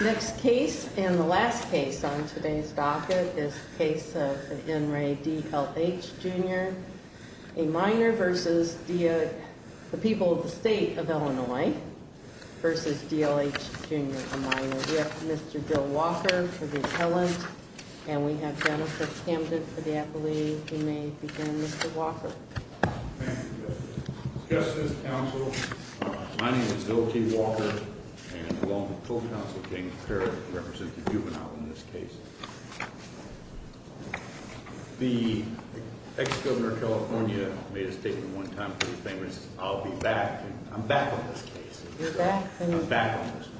Next case and the last case on today's docket is the case of N. Ray D.L.H., Jr., a minor versus the people of the state of Illinois versus D.L.H., Jr., a minor. We have Mr. Bill Walker for the appellant, and we have Jennifer Camden for the appellee. You may begin, Mr. Walker. Thank you, Justice. Justice, counsel, my name is Bill T. Walker, and along with full counsel James Parrott, I represent the juvenile in this case. The ex-governor of California made a statement one time for the famous, I'll be back. I'm back on this case. You're back? I'm back on this one.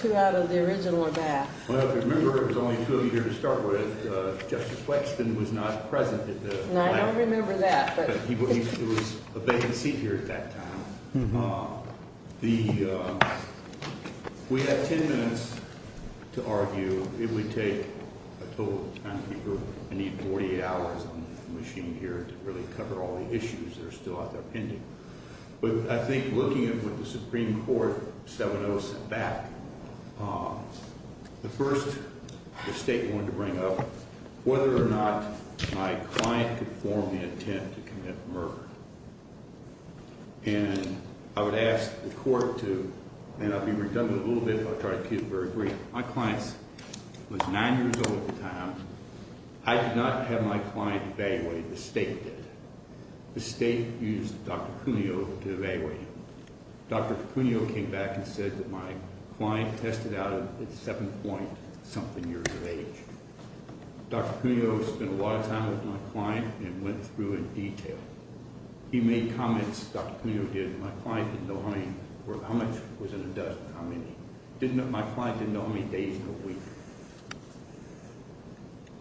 Two out of the original are back. Well, if you remember, it was only two of you here to start with. Justice Wexton was not present at the time. I don't remember that. But it was a vacant seat here at that time. We have ten minutes to argue. It would take a total of ten people. I need 48 hours on the machine here to really cover all the issues that are still out there pending. But I think looking at what the Supreme Court, 7-0, set back, the first mistake I wanted to bring up, whether or not my client could form the intent to commit murder. And I would ask the court to, and I'll be redundant a little bit, but I'll try to keep it very brief. My client was nine years old at the time. I did not have my client evaluated. The state did. The state used Dr. Cuneo to evaluate him. Dr. Cuneo came back and said that my client tested out at 7-point-something years of age. Dr. Cuneo spent a lot of time with my client and went through in detail. He made comments, Dr. Cuneo did, that my client didn't know how many, or how much was in a dozen, how many. My client didn't know how many days in a week.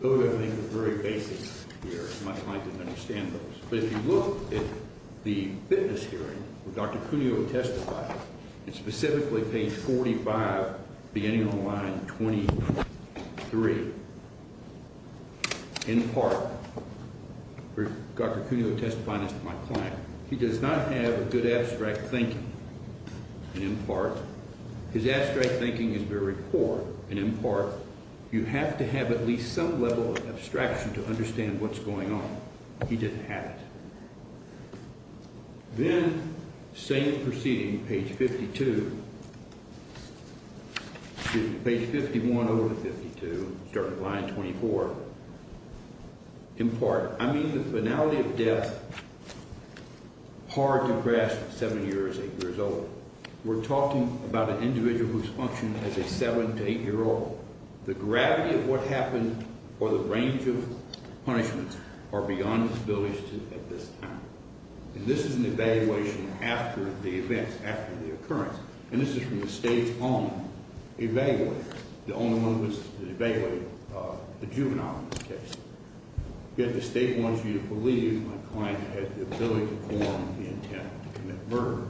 Those, I think, are very basic here. My client didn't understand those. But if you look at the witness hearing where Dr. Cuneo testified, and specifically page 45, beginning on line 23, in part, where Dr. Cuneo testifies to my client, he does not have a good abstract thinking. And in part, his abstract thinking is very poor. And in part, you have to have at least some level of abstraction to understand what's going on. He didn't have it. Then, same proceeding, page 52, excuse me, page 51 over 52, starting on line 24. In part, I mean the finality of death hard to grasp at 7 years, 8 years old. We're talking about an individual whose function as a 7- to 8-year-old. The gravity of what happened, or the range of punishments, are beyond this ability at this time. And this is an evaluation after the events, after the occurrence. And this is from the state's own evaluator. The only one who was to evaluate the juvenile in this case. Yet the state wants you to believe my client had the ability to form the intent to commit murder.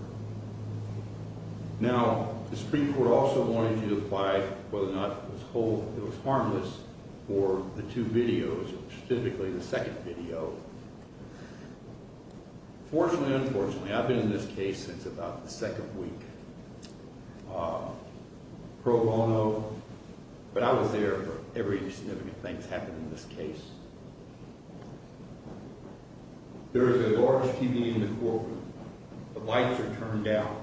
Now, the Supreme Court also wanted you to apply whether or not it was harmless for the two videos, specifically the second video. Fortunately or unfortunately, I've been in this case since about the second week, pro bono. But I was there for every significant thing that's happened in this case. There is a large TV in the courtroom. The lights are turned down.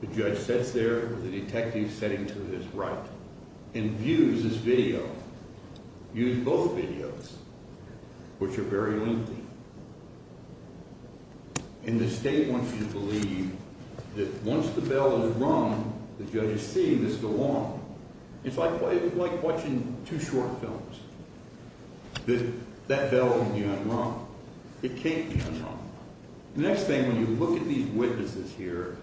The judge sits there with the detective sitting to his right and views this video. Views both videos, which are very lengthy. And the state wants you to believe that once the bell is rung, the judge is seeing this go on. It's like watching two short films. That bell can be unrung. It can't be unrung. The next thing, when you look at these witnesses here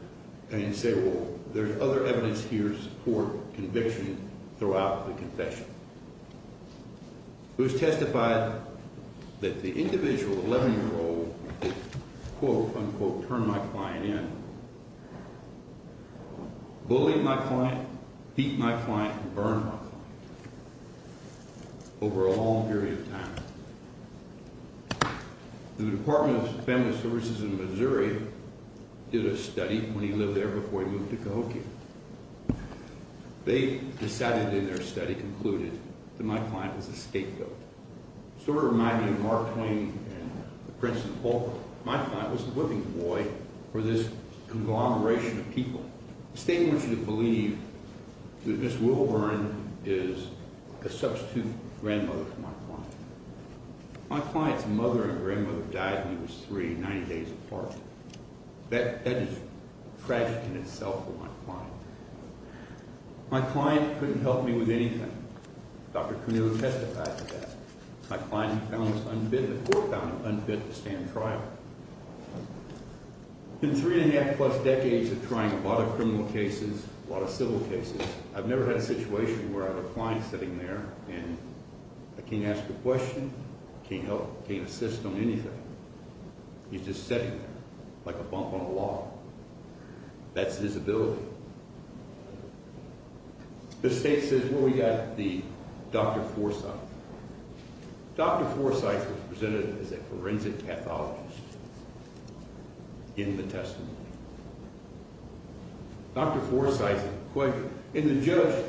and you say, well, there's other evidence here to support conviction throughout the confession. It was testified that the individual, the 11-year-old, quote, unquote, turned my client in. Bullied my client, beat my client, and burned her. Over a long period of time. The Department of Feminist Services in Missouri did a study when he lived there before he moved to Cahokia. They decided in their study, concluded, that my client was a scapegoat. Sort of reminding Mark Twain and Princeton Polk, my client was the living boy for this conglomeration of people. The state wants you to believe that Ms. Wilburn is a substitute grandmother to my client. My client's mother and grandmother died when he was three, 90 days apart. That is tragic in itself for my client. My client couldn't help me with anything. Dr. Curnewa testified to that. My client found this unbid, the court found him unbid to stand trial. In three and a half plus decades of trying a lot of criminal cases, a lot of civil cases, I've never had a situation where I have a client sitting there and I can't ask a question, can't help, can't assist on anything. He's just sitting there, like a bump on a wall. That's his ability. The state says, well, we got the Dr. Forsythe. Dr. Forsythe was presented as a forensic pathologist in the testimony. Dr. Forsythe, in the judge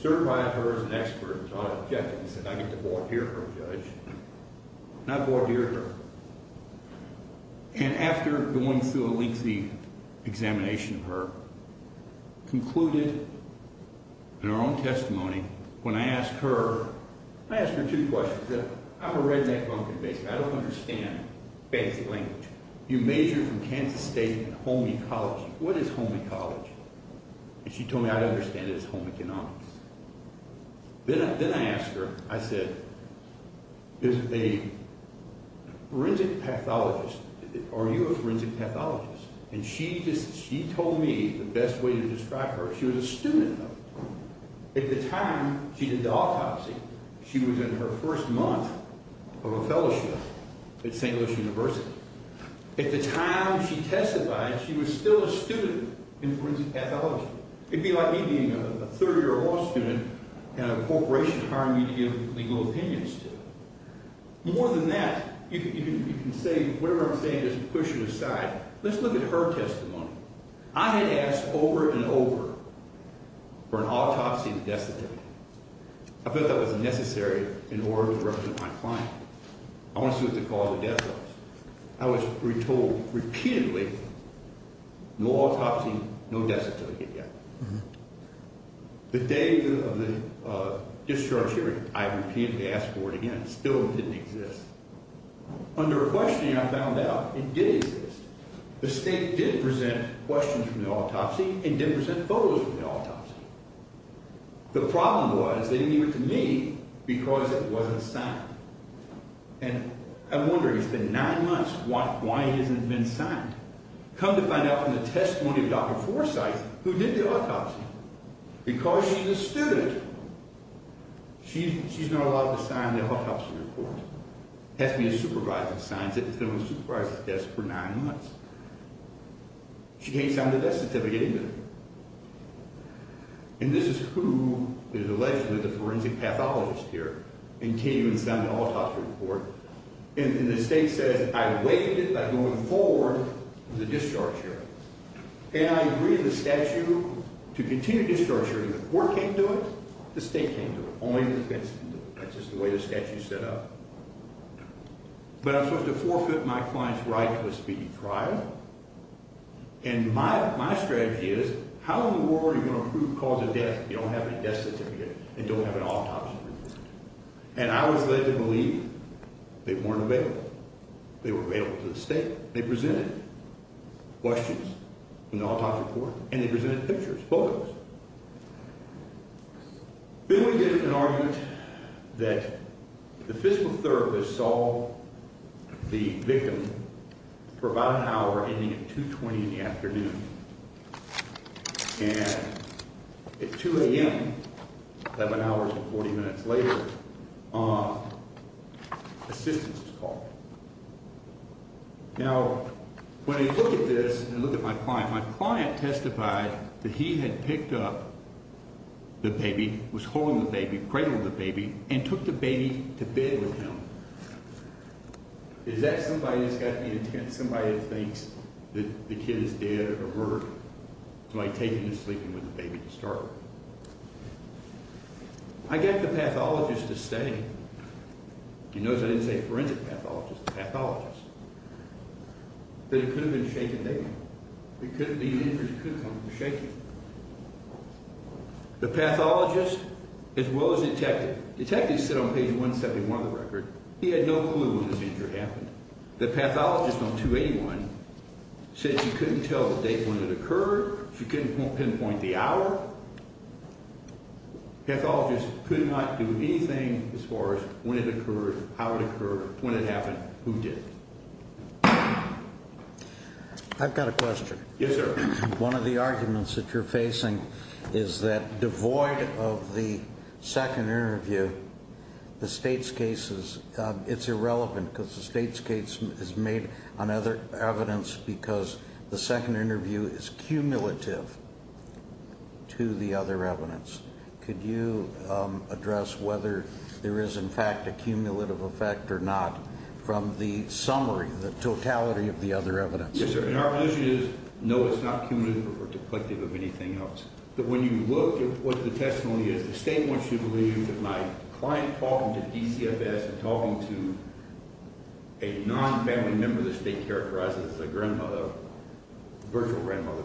certified her as an expert on objectives, and I get to voir dire her, judge. And I voir dire her. And after going through a lengthy examination of her, concluded in her own testimony, when I asked her, I asked her two questions. I'm a redneck, I don't understand basic language. You majored from Kansas State in home ecology. What is home ecology? And she told me, I don't understand it, it's home economics. Then I asked her, I said, is a forensic pathologist, are you a forensic pathologist? And she told me the best way to describe her, she was a student of it. At the time she did the autopsy, she was in her first month of a fellowship at St. Louis University. At the time she testified, she was still a student in forensic pathology. It would be like me being a third year law student and a corporation hiring me to give legal opinions to. More than that, you can say whatever I'm saying, just push it aside. Let's look at her testimony. I had asked over and over for an autopsy and a death certificate. I felt that was necessary in order to represent my client. I want to see what the cause of death was. I was told repeatedly, no autopsy, no death certificate yet. The day of the discharge hearing, I repeatedly asked for it again. It still didn't exist. Under a questioning, I found out it did exist. The state did present questions from the autopsy and did present photos from the autopsy. The problem was they didn't give it to me because it wasn't signed. And I'm wondering, it's been nine months, why hasn't it been signed? Come to find out from the testimony of Dr. Forsythe, who did the autopsy, because she's a student. She's not allowed to sign the autopsy report. It has to be a supervisor that signs it. It's been on the supervisor's desk for nine months. She can't sign the death certificate either. And this is who is allegedly the forensic pathologist here, continuing to sign the autopsy report. And the state says, I waived it by going forward with the discharge hearing. And I agreed with the statute to continue the discharge hearing. When the court came to it, the state came to it. Only the defense can do it. That's just the way the statute is set up. But I'm supposed to forfeit my client's right to a speedy trial? And my strategy is, how in the world are you going to prove cause of death if you don't have any death certificate and don't have an autopsy report? And I was led to believe they weren't available. They were available to the state. They presented questions from the autopsy report. And they presented pictures, photos. Then we did an argument that the physical therapist saw the victim for about an hour ending at 2.20 in the afternoon. And at 2 a.m., 11 hours and 40 minutes later, assistance was called. Now, when I look at this and look at my client, my client testified that he had picked up the baby, was holding the baby, cradling the baby, and took the baby to bed with him. Is that somebody that's got the intent? Somebody that thinks that the kid is dead or murdered? Somebody taking him to sleep and with the baby to start with? I get the pathologist to stay. You notice I didn't say forensic pathologist. It's pathologist. But it could have been a shaken baby. It could have been an injury. It could have come from a shaking. The pathologist, as well as the detective, the detective said on page 171 of the record, he had no clue when this injury happened. The pathologist on 281 said she couldn't tell the date when it occurred. She couldn't pinpoint the hour. The pathologist could not do anything as far as when it occurred, how it occurred, when it happened, who did it. I've got a question. One of the arguments that you're facing is that, devoid of the second interview, the state's case is irrelevant because the state's case is made on other evidence because the second interview is cumulative to the other evidence. Could you address whether there is, in fact, a cumulative effect or not from the summary, the totality of the other evidence? Yes, sir. And our position is, no, it's not cumulative or deplective of anything else. But when you look at what the testimony is, the state wants you to believe that my client talking to DCFS and talking to a non-family member of the state characterized as a grandmother, a virtual grandmother,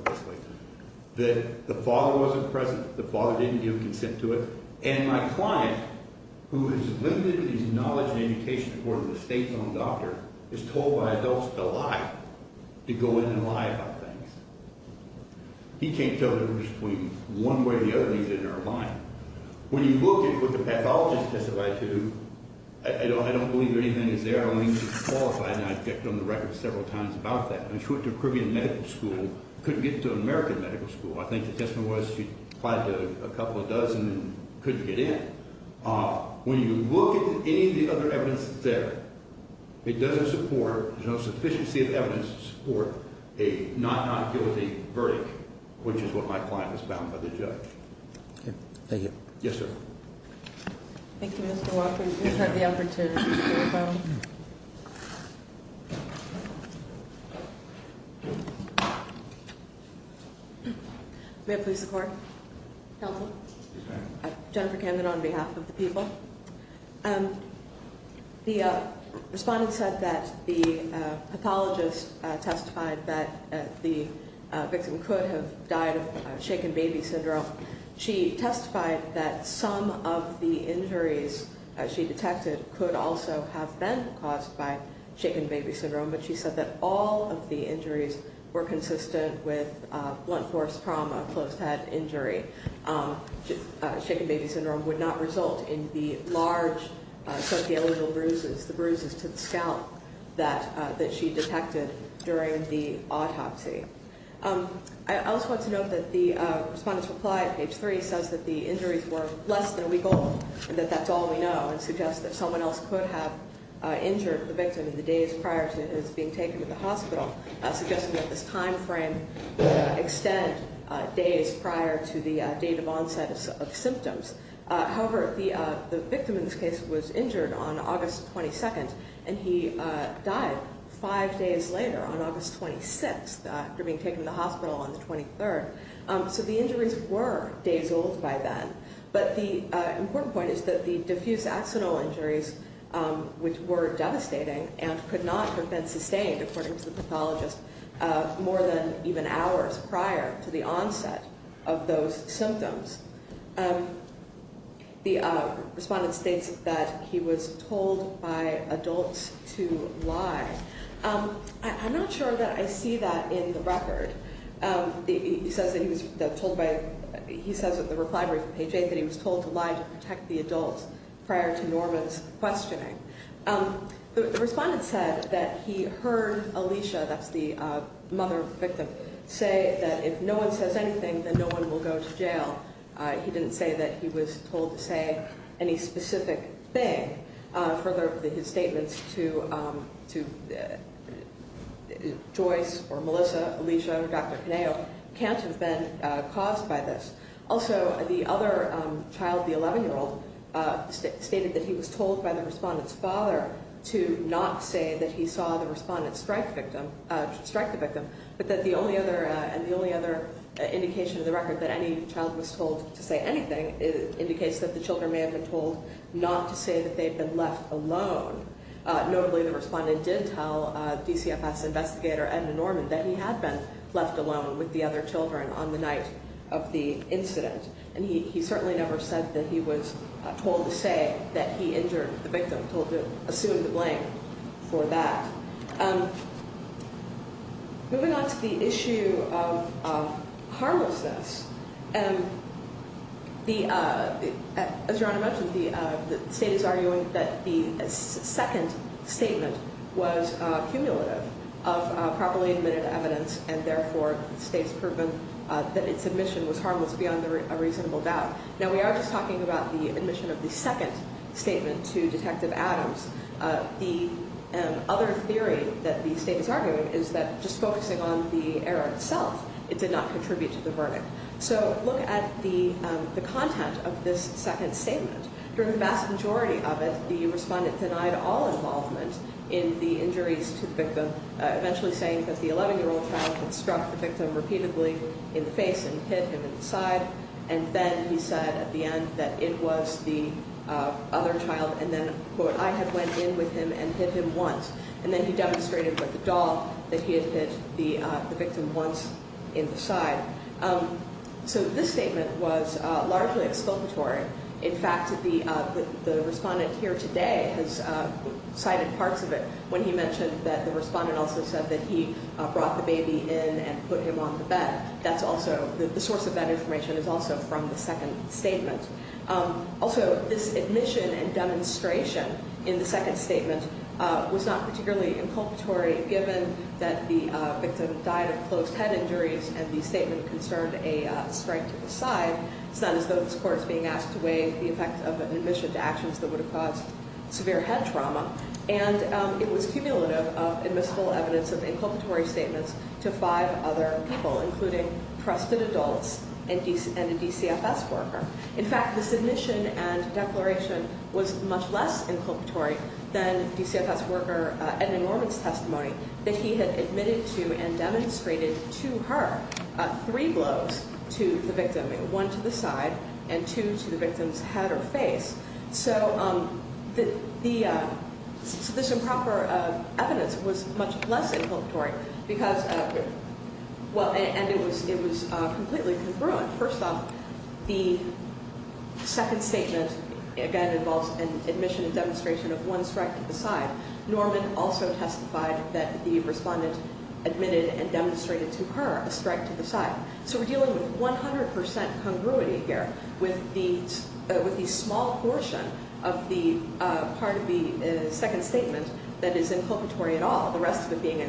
that the father wasn't present, the father didn't give consent to it, and my client, who is limited in his knowledge and education or the state-known doctor, is told by adults to lie, to go in and lie about things. He can't tell the difference between one way or the other that he's in or lying. When you look at what the pathologist testified to, I don't believe anything is there. I don't think he's qualified, and I've checked on the record several times about that. When she went to a Caribbean medical school, couldn't get to an American medical school. I think the testimony was she applied to a couple dozen and couldn't get in. When you look at any of the other evidence that's there, it doesn't support, there's no sufficiency of evidence to support a not-guilty verdict, which is what my client is bound by the judge. Okay. Thank you. Yes, sir. Thank you, Mr. Walker. You've had the opportunity to speak as well. May I please support? Helpful. Jennifer Camden on behalf of the people. The respondent said that the pathologist testified that the victim could have died of shaken baby syndrome. She testified that some of the injuries she detected could also have been caused by shaken baby syndrome, but she said that all of the injuries were consistent with blunt force trauma, closed head injury. Shaken baby syndrome would not result in the large social bruises, the bruises to the scalp that she detected during the autopsy. I also want to note that the respondent's reply at page three says that the injuries were less than a week old and that that's all we know and suggests that someone else could have injured the victim in the days prior to his being taken to the hospital, suggesting that this timeframe extend days prior to the date of onset of symptoms. However, the victim in this case was injured on August 22nd and he died five days later on August 26th after being taken to the hospital on the 23rd. So the injuries were days old by then, but the important point is that the diffuse axonal injuries, which were devastating and could not have been sustained, according to the pathologist, more than even hours prior to the onset of those symptoms. The respondent states that he was told by adults to lie. I'm not sure that I see that in the record. He says that he was told by, he says in the reply from page eight that he was told to lie to protect the adults prior to Norma's questioning. The respondent said that he heard Alicia, that's the mother of the victim, say that if no one says anything, then no one will go to jail. He didn't say that he was told to say any specific thing. Further, his statements to Joyce or Melissa, Alicia, or Dr. Penao can't have been caused by this. Also, the other child, the 11-year-old, stated that he was told by the respondent's father to not say that he saw the respondent strike the victim, but that the only other indication in the record that he was told to say anything indicates that the children may have been told not to say that they'd been left alone. Notably, the respondent did tell DCFS investigator Edna Norman that he had been left alone with the other children on the night of the incident, and he certainly never said that he was told to say that he injured the victim, told to assume the blame for that. Moving on to the issue of harmlessness, as Your Honor mentioned, the State is arguing that the second statement was cumulative of properly admitted evidence, and therefore the State's proven that its admission was harmless beyond a reasonable doubt. Now, we are just talking about the admission of the second statement to Detective Adams. The other theory that the State is arguing is that just focusing on the error itself, it did not contribute to the verdict. It did not contribute to the content of this second statement. During the vast majority of it, the respondent denied all involvement in the injuries to the victim, eventually saying that the 11-year-old child had struck the victim repeatedly in the face and hit him in the side, and then he said at the end that it was the other child, and then, quote, I had went in with him and hit him once, and then he demonstrated with the doll that he had hit the victim once in the side. So this statement was largely exculpatory. In fact, the respondent here today has cited parts of it when he mentioned that the respondent also said that he brought the baby in and put him on the bed. The source of that information is also from the second statement. Also, this admission and demonstration in the second statement was not particularly inculpatory given that the victim died of closed head injuries, and he had concerned a strike to the side. It's not as though this court is being asked to weigh the effect of an admission to actions that would have caused severe head trauma, and it was cumulative of admissible evidence of inculpatory statements to five other people, including trusted adults and a DCFS worker. In fact, this admission and declaration was much less inculpatory because there were three blows to the victim, one to the side and two to the victim's head or face. So this improper evidence was much less inculpatory because, well, and it was completely congruent. First off, the second statement again involves an admission and demonstration of one strike to the side. Norman also testified that the respondent admitted and demonstrated to her a strike to the side. So we're dealing with 100% congruity here with the small portion of the part of the second statement that is inculpatory at all, the rest of it being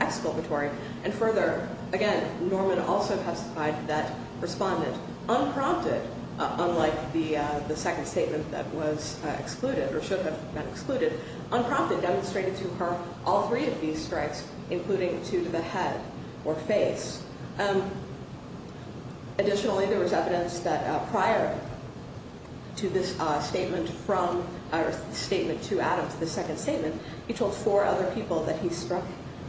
exculpatory. And further, again, Norman also testified that the respondent unprompted, unlike the second statement that was excluded or should have been excluded, unprompted demonstrated to her all three of these strikes including two to the head or face. Additionally, there was evidence that prior to this statement from or statement to Adams, the second statement, he told four other people that he struck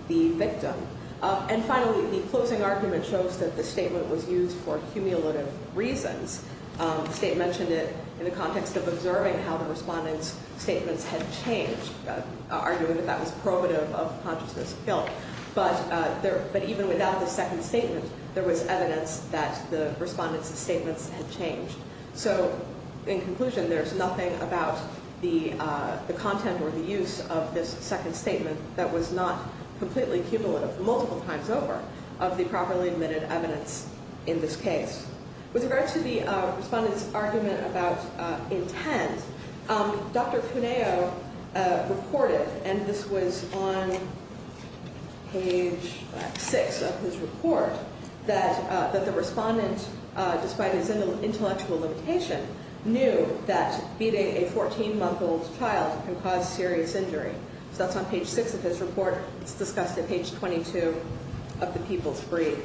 the victim. And finally, the closing argument shows that the statement was used for cumulative reasons. The state mentioned it in the context of observing how the respondent's statements had changed, arguing that that was probative of consciousness of guilt. But even without the second statement, there was evidence that the respondent's statements had changed. So in conclusion, there's nothing about the content or the use of this second statement that was not completely cumulative multiple times over of the properly admitted evidence or the respondent's argument about intent. Dr. Cuneo reported, and this was on page six of his report, that the respondent, despite his intellectual limitation, knew that beating a 14-month-old child can cause serious injury. So that's on page six of his report. It's discussed at page 22 of the People's Brief.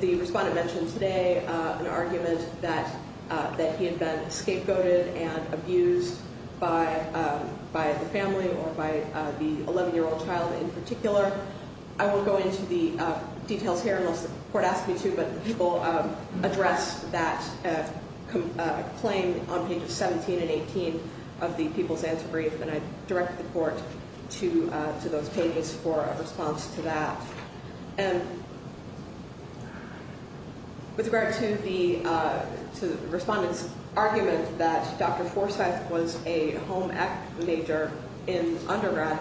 The respondent mentioned today an argument that he had been scapegoated and abused by the family or by the 11-year-old child in particular. I won't go into the details here unless the court asks me to, but the people addressed that claim on pages 17 and 18 of the People's Answer Brief, and I directed the court to those pages for a response to that. And with regard to the respondent's argument that Dr. Forsythe was a home ec major in undergrad,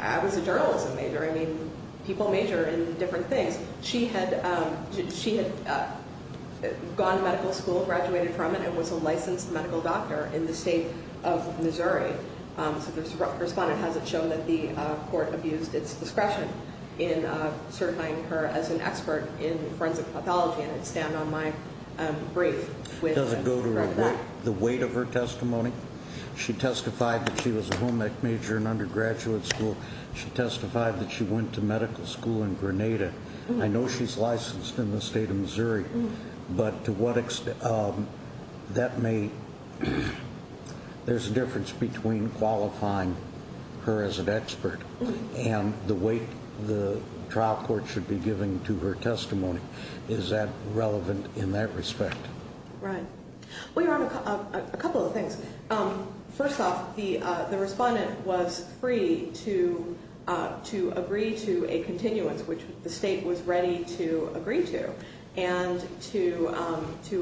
I was a journalism major. I mean, people major in different things. She had gone to medical school, graduated from it, and was a licensed medical doctor in the state of Missouri. So the respondent hasn't shown that the court abused its discretion in certifying her as an expert in forensic pathology, and it's down on my brief. Does it go to the weight of her testimony? She testified that she was a home ec major in undergraduate school. She testified that she went to medical school in Grenada. I know she's licensed in the state of Missouri, but to what extent that may... There's a difference between qualifying her as an expert and the weight the trial court should be giving to her testimony. Is that relevant in that respect? Right. Well, your Honor, a couple of things. First off, the respondent was free to agree to a continuance, which the state was ready to agree to, and to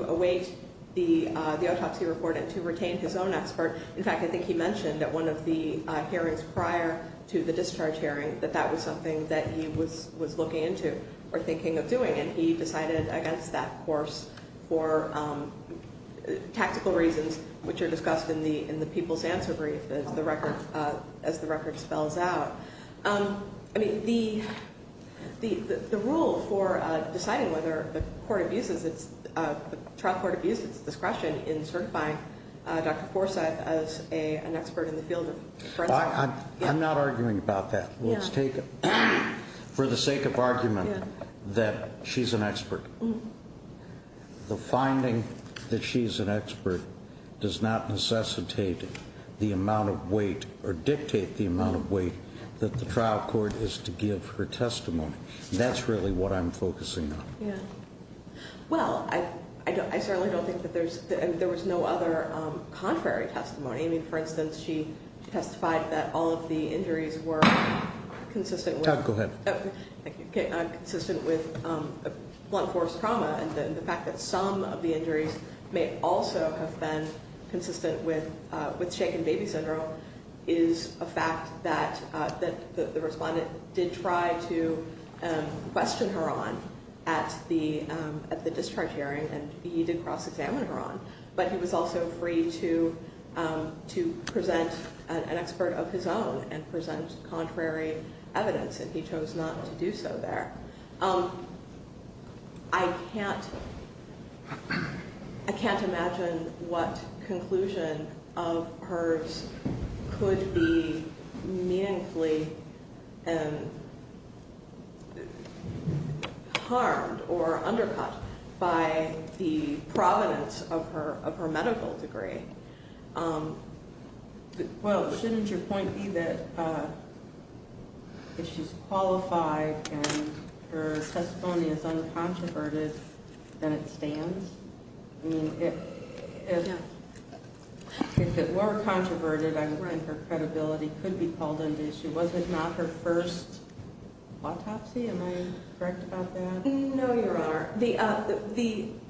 await the autopsy report and to retain his own expert. In fact, I think he mentioned that one of the hearings prior to the trial was a discharge hearing, that that was something that he was looking into or thinking of doing, and he decided against that course for tactical reasons, which are discussed in the people's answer brief as the record spells out. I mean, the rule for deciding whether the trial court abuses its discretion in certifying Dr. Forsett as an expert in the field of forensic... I'm not arguing about that. Let's take it for the sake of argument that she's an expert. The finding that she's an expert does not necessitate the amount of weight or dictate the amount of weight that the trial court is to give her testimony. That's really what I'm focusing on. Well, I certainly don't think that there's... There was no other contrary testimony. I mean, for instance, she testified that all of the injuries were consistent with... Go ahead. Okay. Consistent with blunt force trauma and the fact that some of the injuries may also have been consistent with shaken baby syndrome is a fact that the respondent did try to question her on at the discharge hearing and he did cross-examine her on, but he was also free to present an expert of his own and present contrary evidence and he chose not to do so there. I can't... I can't imagine what conclusion of hers could be meaningfully harmed or undercut by the provenance of her medical degree. Well, shouldn't your point be that if she's qualified and her testimony is uncontroverted then it stands? I mean, if it were controverted, I would think her credibility could be called into issue. Was it not her first autopsy? Am I correct about that? No, Your Honor. The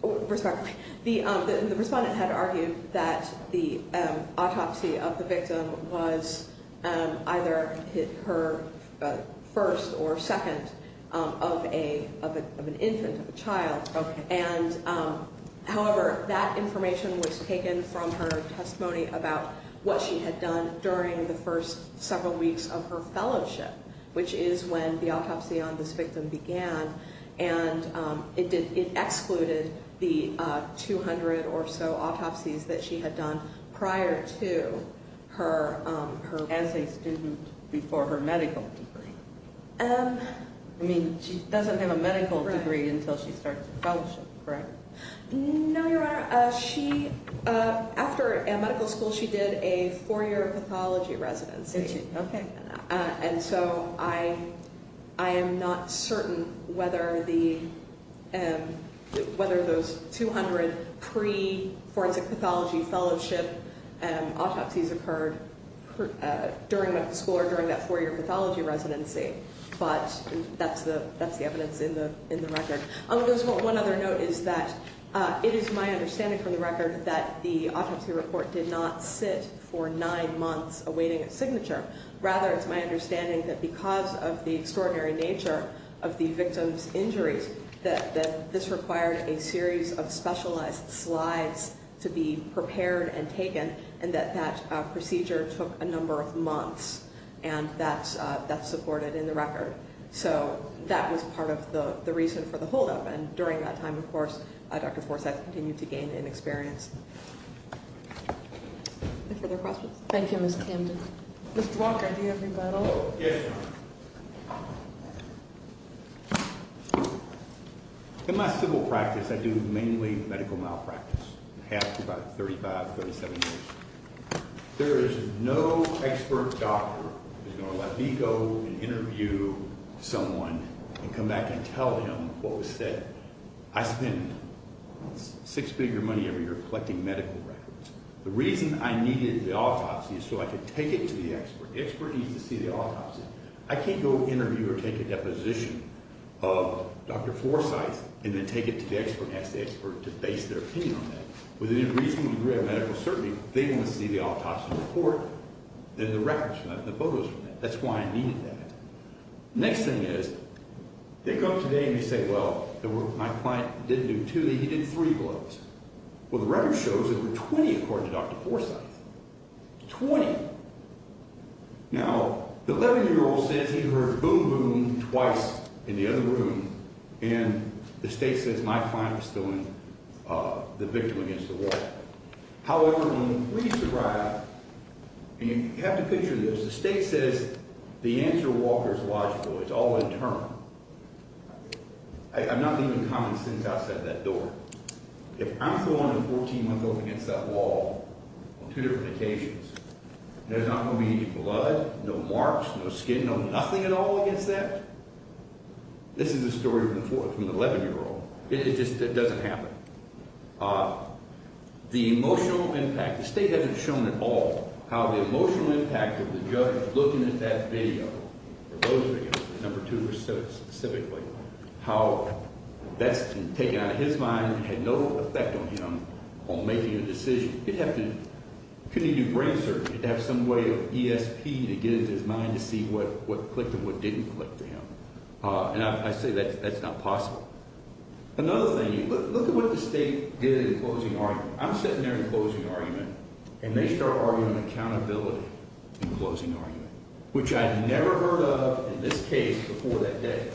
respondent had argued that the autopsy on this victim was her first or second of an infant, of a child, and however, that information was taken from her testimony about what she had done during the first several weeks of her fellowship, which is when the autopsy on this victim began, and it excluded the 200 or so autopsies that she had done prior to her As a student before her medical degree? I mean, she doesn't have a medical degree until she starts her fellowship, correct? No, Your Honor. She, after medical school, she did a four-year pathology residency. Okay. And so I am not certain whether the, whether those 200 pre-forensic pathology fellowship autopsies occurred during medical school or during that four-year pathology residency, but that's the evidence in the record. One other note is that it is my understanding from the record that the autopsy report did not sit for nine months awaiting a signature. Rather, it's my understanding that because of the extraordinary nature of the victim's injuries, that this required a series of specialized slides to be prepared and taken, and that that procedure took a number of months, and that's supported in the record. So that was part of the reason for the holdup, and during that time, of course, Dr. Forsythe continued to gain in experience. Any further questions? Thank you, Ms. Camden. Mr. Walker, do you have any final? Yes, ma'am. In my civil practice, I do mainly medical malpractice, about 35, 37 years. There is no expert doctor who's going to let me go and interview someone and come back and tell them what was said. I spend six figure money every year collecting medical records. The reason I needed the autopsy is so I could take it to the expert. The expert needs to see the autopsy. I can't go interview or take a deposition of Dr. Forsythe and then take it to the expert and ask the expert to base their opinion on that. With a reasonable degree of medical certainty, they want to see the autopsy report and the records from that and the photos from that. That's why I needed that. Next thing is, they come today and they say, well, my client didn't do two, he did three blows. Well, the record shows it was 20 according to Dr. Forsythe. 20. Now, the 11-year-old says he heard boom boom twice in the other room and the state says my client was still in the victim against the wall. However, when police arrived, and you have to picture this, the state says the answer is logical. It's all one term. I'm not leaving common sense outside that door. If I'm going against that wall on two different occasions, there's not going to be blood, no marks, no skin, no nothing at all against that? This is the story from the 11-year-old. It just doesn't happen. The emotional impact, the state hasn't shown at all how the emotional impact of the judge looking at that video, those videos, number two specifically, how that's taken out of his mind and had no effect on him on making a decision. He'd have to, couldn't he do brain surgery to have some way of ESP to get into his mind to see what clicked and what didn't click for him. I say that's not possible. Another thing, look at what the state did in closing argument. I'm sitting there in closing argument and they start arguing accountability in closing argument, which I'd never heard of in this case before that day.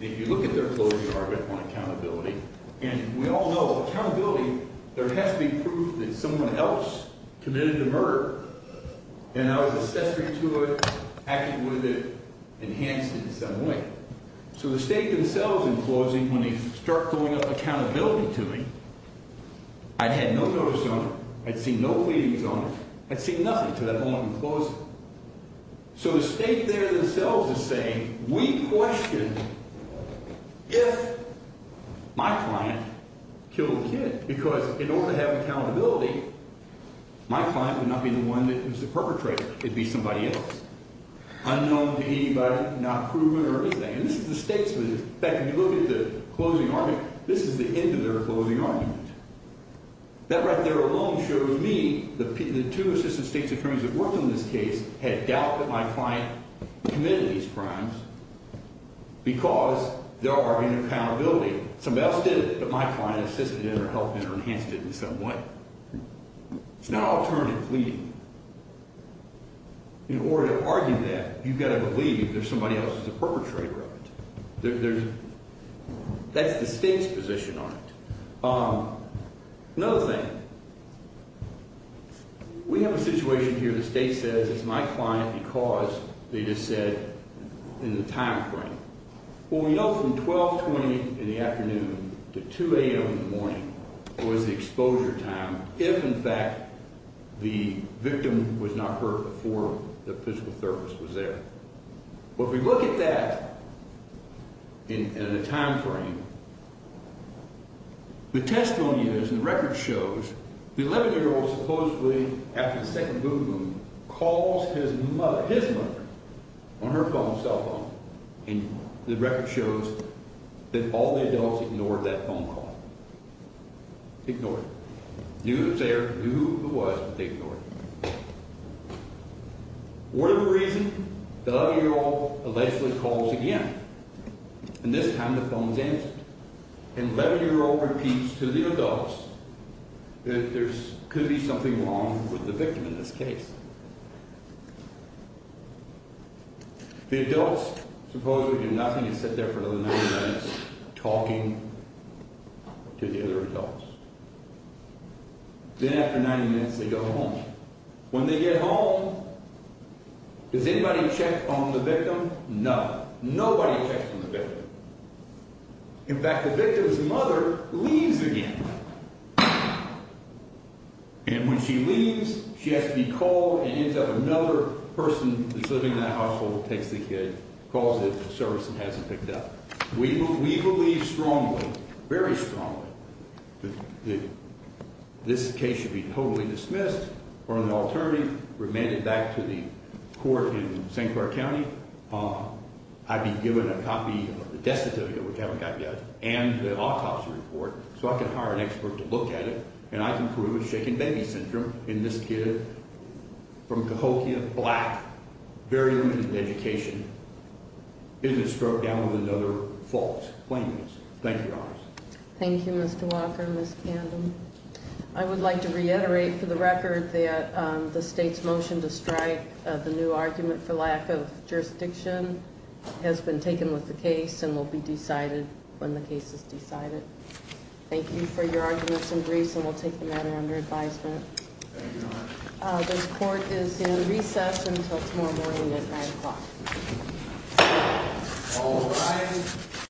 If you look at their closing argument on accountability and we all know accountability there has to be proof that someone else committed the murder and I was accessory to it, acted with it, enhanced it in some way. So the state themselves in closing, when they start throwing up accountability to me, I'd had no notice on it, I'd seen no pleadings on it, I'd seen nothing to that point in closing. So the state there themselves is saying we question if my client killed the kid because in order to have accountability my client would not be the one that was the perpetrator, it'd be somebody else, unknown to anybody, not proven or anything. And this is the state's position. In fact, if you look at the closing argument, this is the end of their closing argument. That right there alone shows me, the two assistant state attorneys that worked on this case had doubt that my client committed these crimes because there are in accountability. Somebody else did it, but my client assisted in or helped in or enhanced it in some way. It's not alternative to state's position. In order to argue that, you've got to believe there's somebody else who's the perpetrator of it. That's the state's position on it. Another thing, we have a situation here the state says it's my client because they just said in the time frame. Well, we know from 1220 in the afternoon to 2 a.m. in the morning was the exposure time if in fact the victim was not hurt before the physical therapist was there. Well, if we look at that in the time frame, the testimony is and the record shows the 11-year-old supposedly after the second booboom calls his mother on her phone cell phone and the adults ignored that phone call. Ignored it. Knew who was there, knew who it was, but they ignored it. Whatever the reason, the 11-year-old allegedly calls again and this time the phone is answered and the 11-year-old repeats to the adults that there could be something wrong with the victim in this case. The adults supposedly do nothing and sit there for another 90 minutes talking to the other adults. Then after 90 minutes they go home. When they get home, does anybody check on the victim? None. Nobody checks on the victim. In fact, the victim's mother leaves again. And when she leaves, she has to be called and ends up another person that's living in that household takes the kid, calls the service and has him picked up. We believe strongly, very strongly, that this case should be totally dismissed or an alternative remanded back to the court in St. Clair County. I've been given a chance to look at it, and I can prove that shaken baby syndrome in this kid from Cahokia, black, very limited education, is a stroke down with another fault. Thank you, Your Honor. Thank you, Mr. Walker. I would like to reiterate for the record that the state's motion to strike the new argument for lack of jurisdiction has been taken with the case and will be decided when the case is decided. Thank you for your arguments and briefs, and we'll take the matter under advisement. The court is in recess until tomorrow morning at 9 o'clock.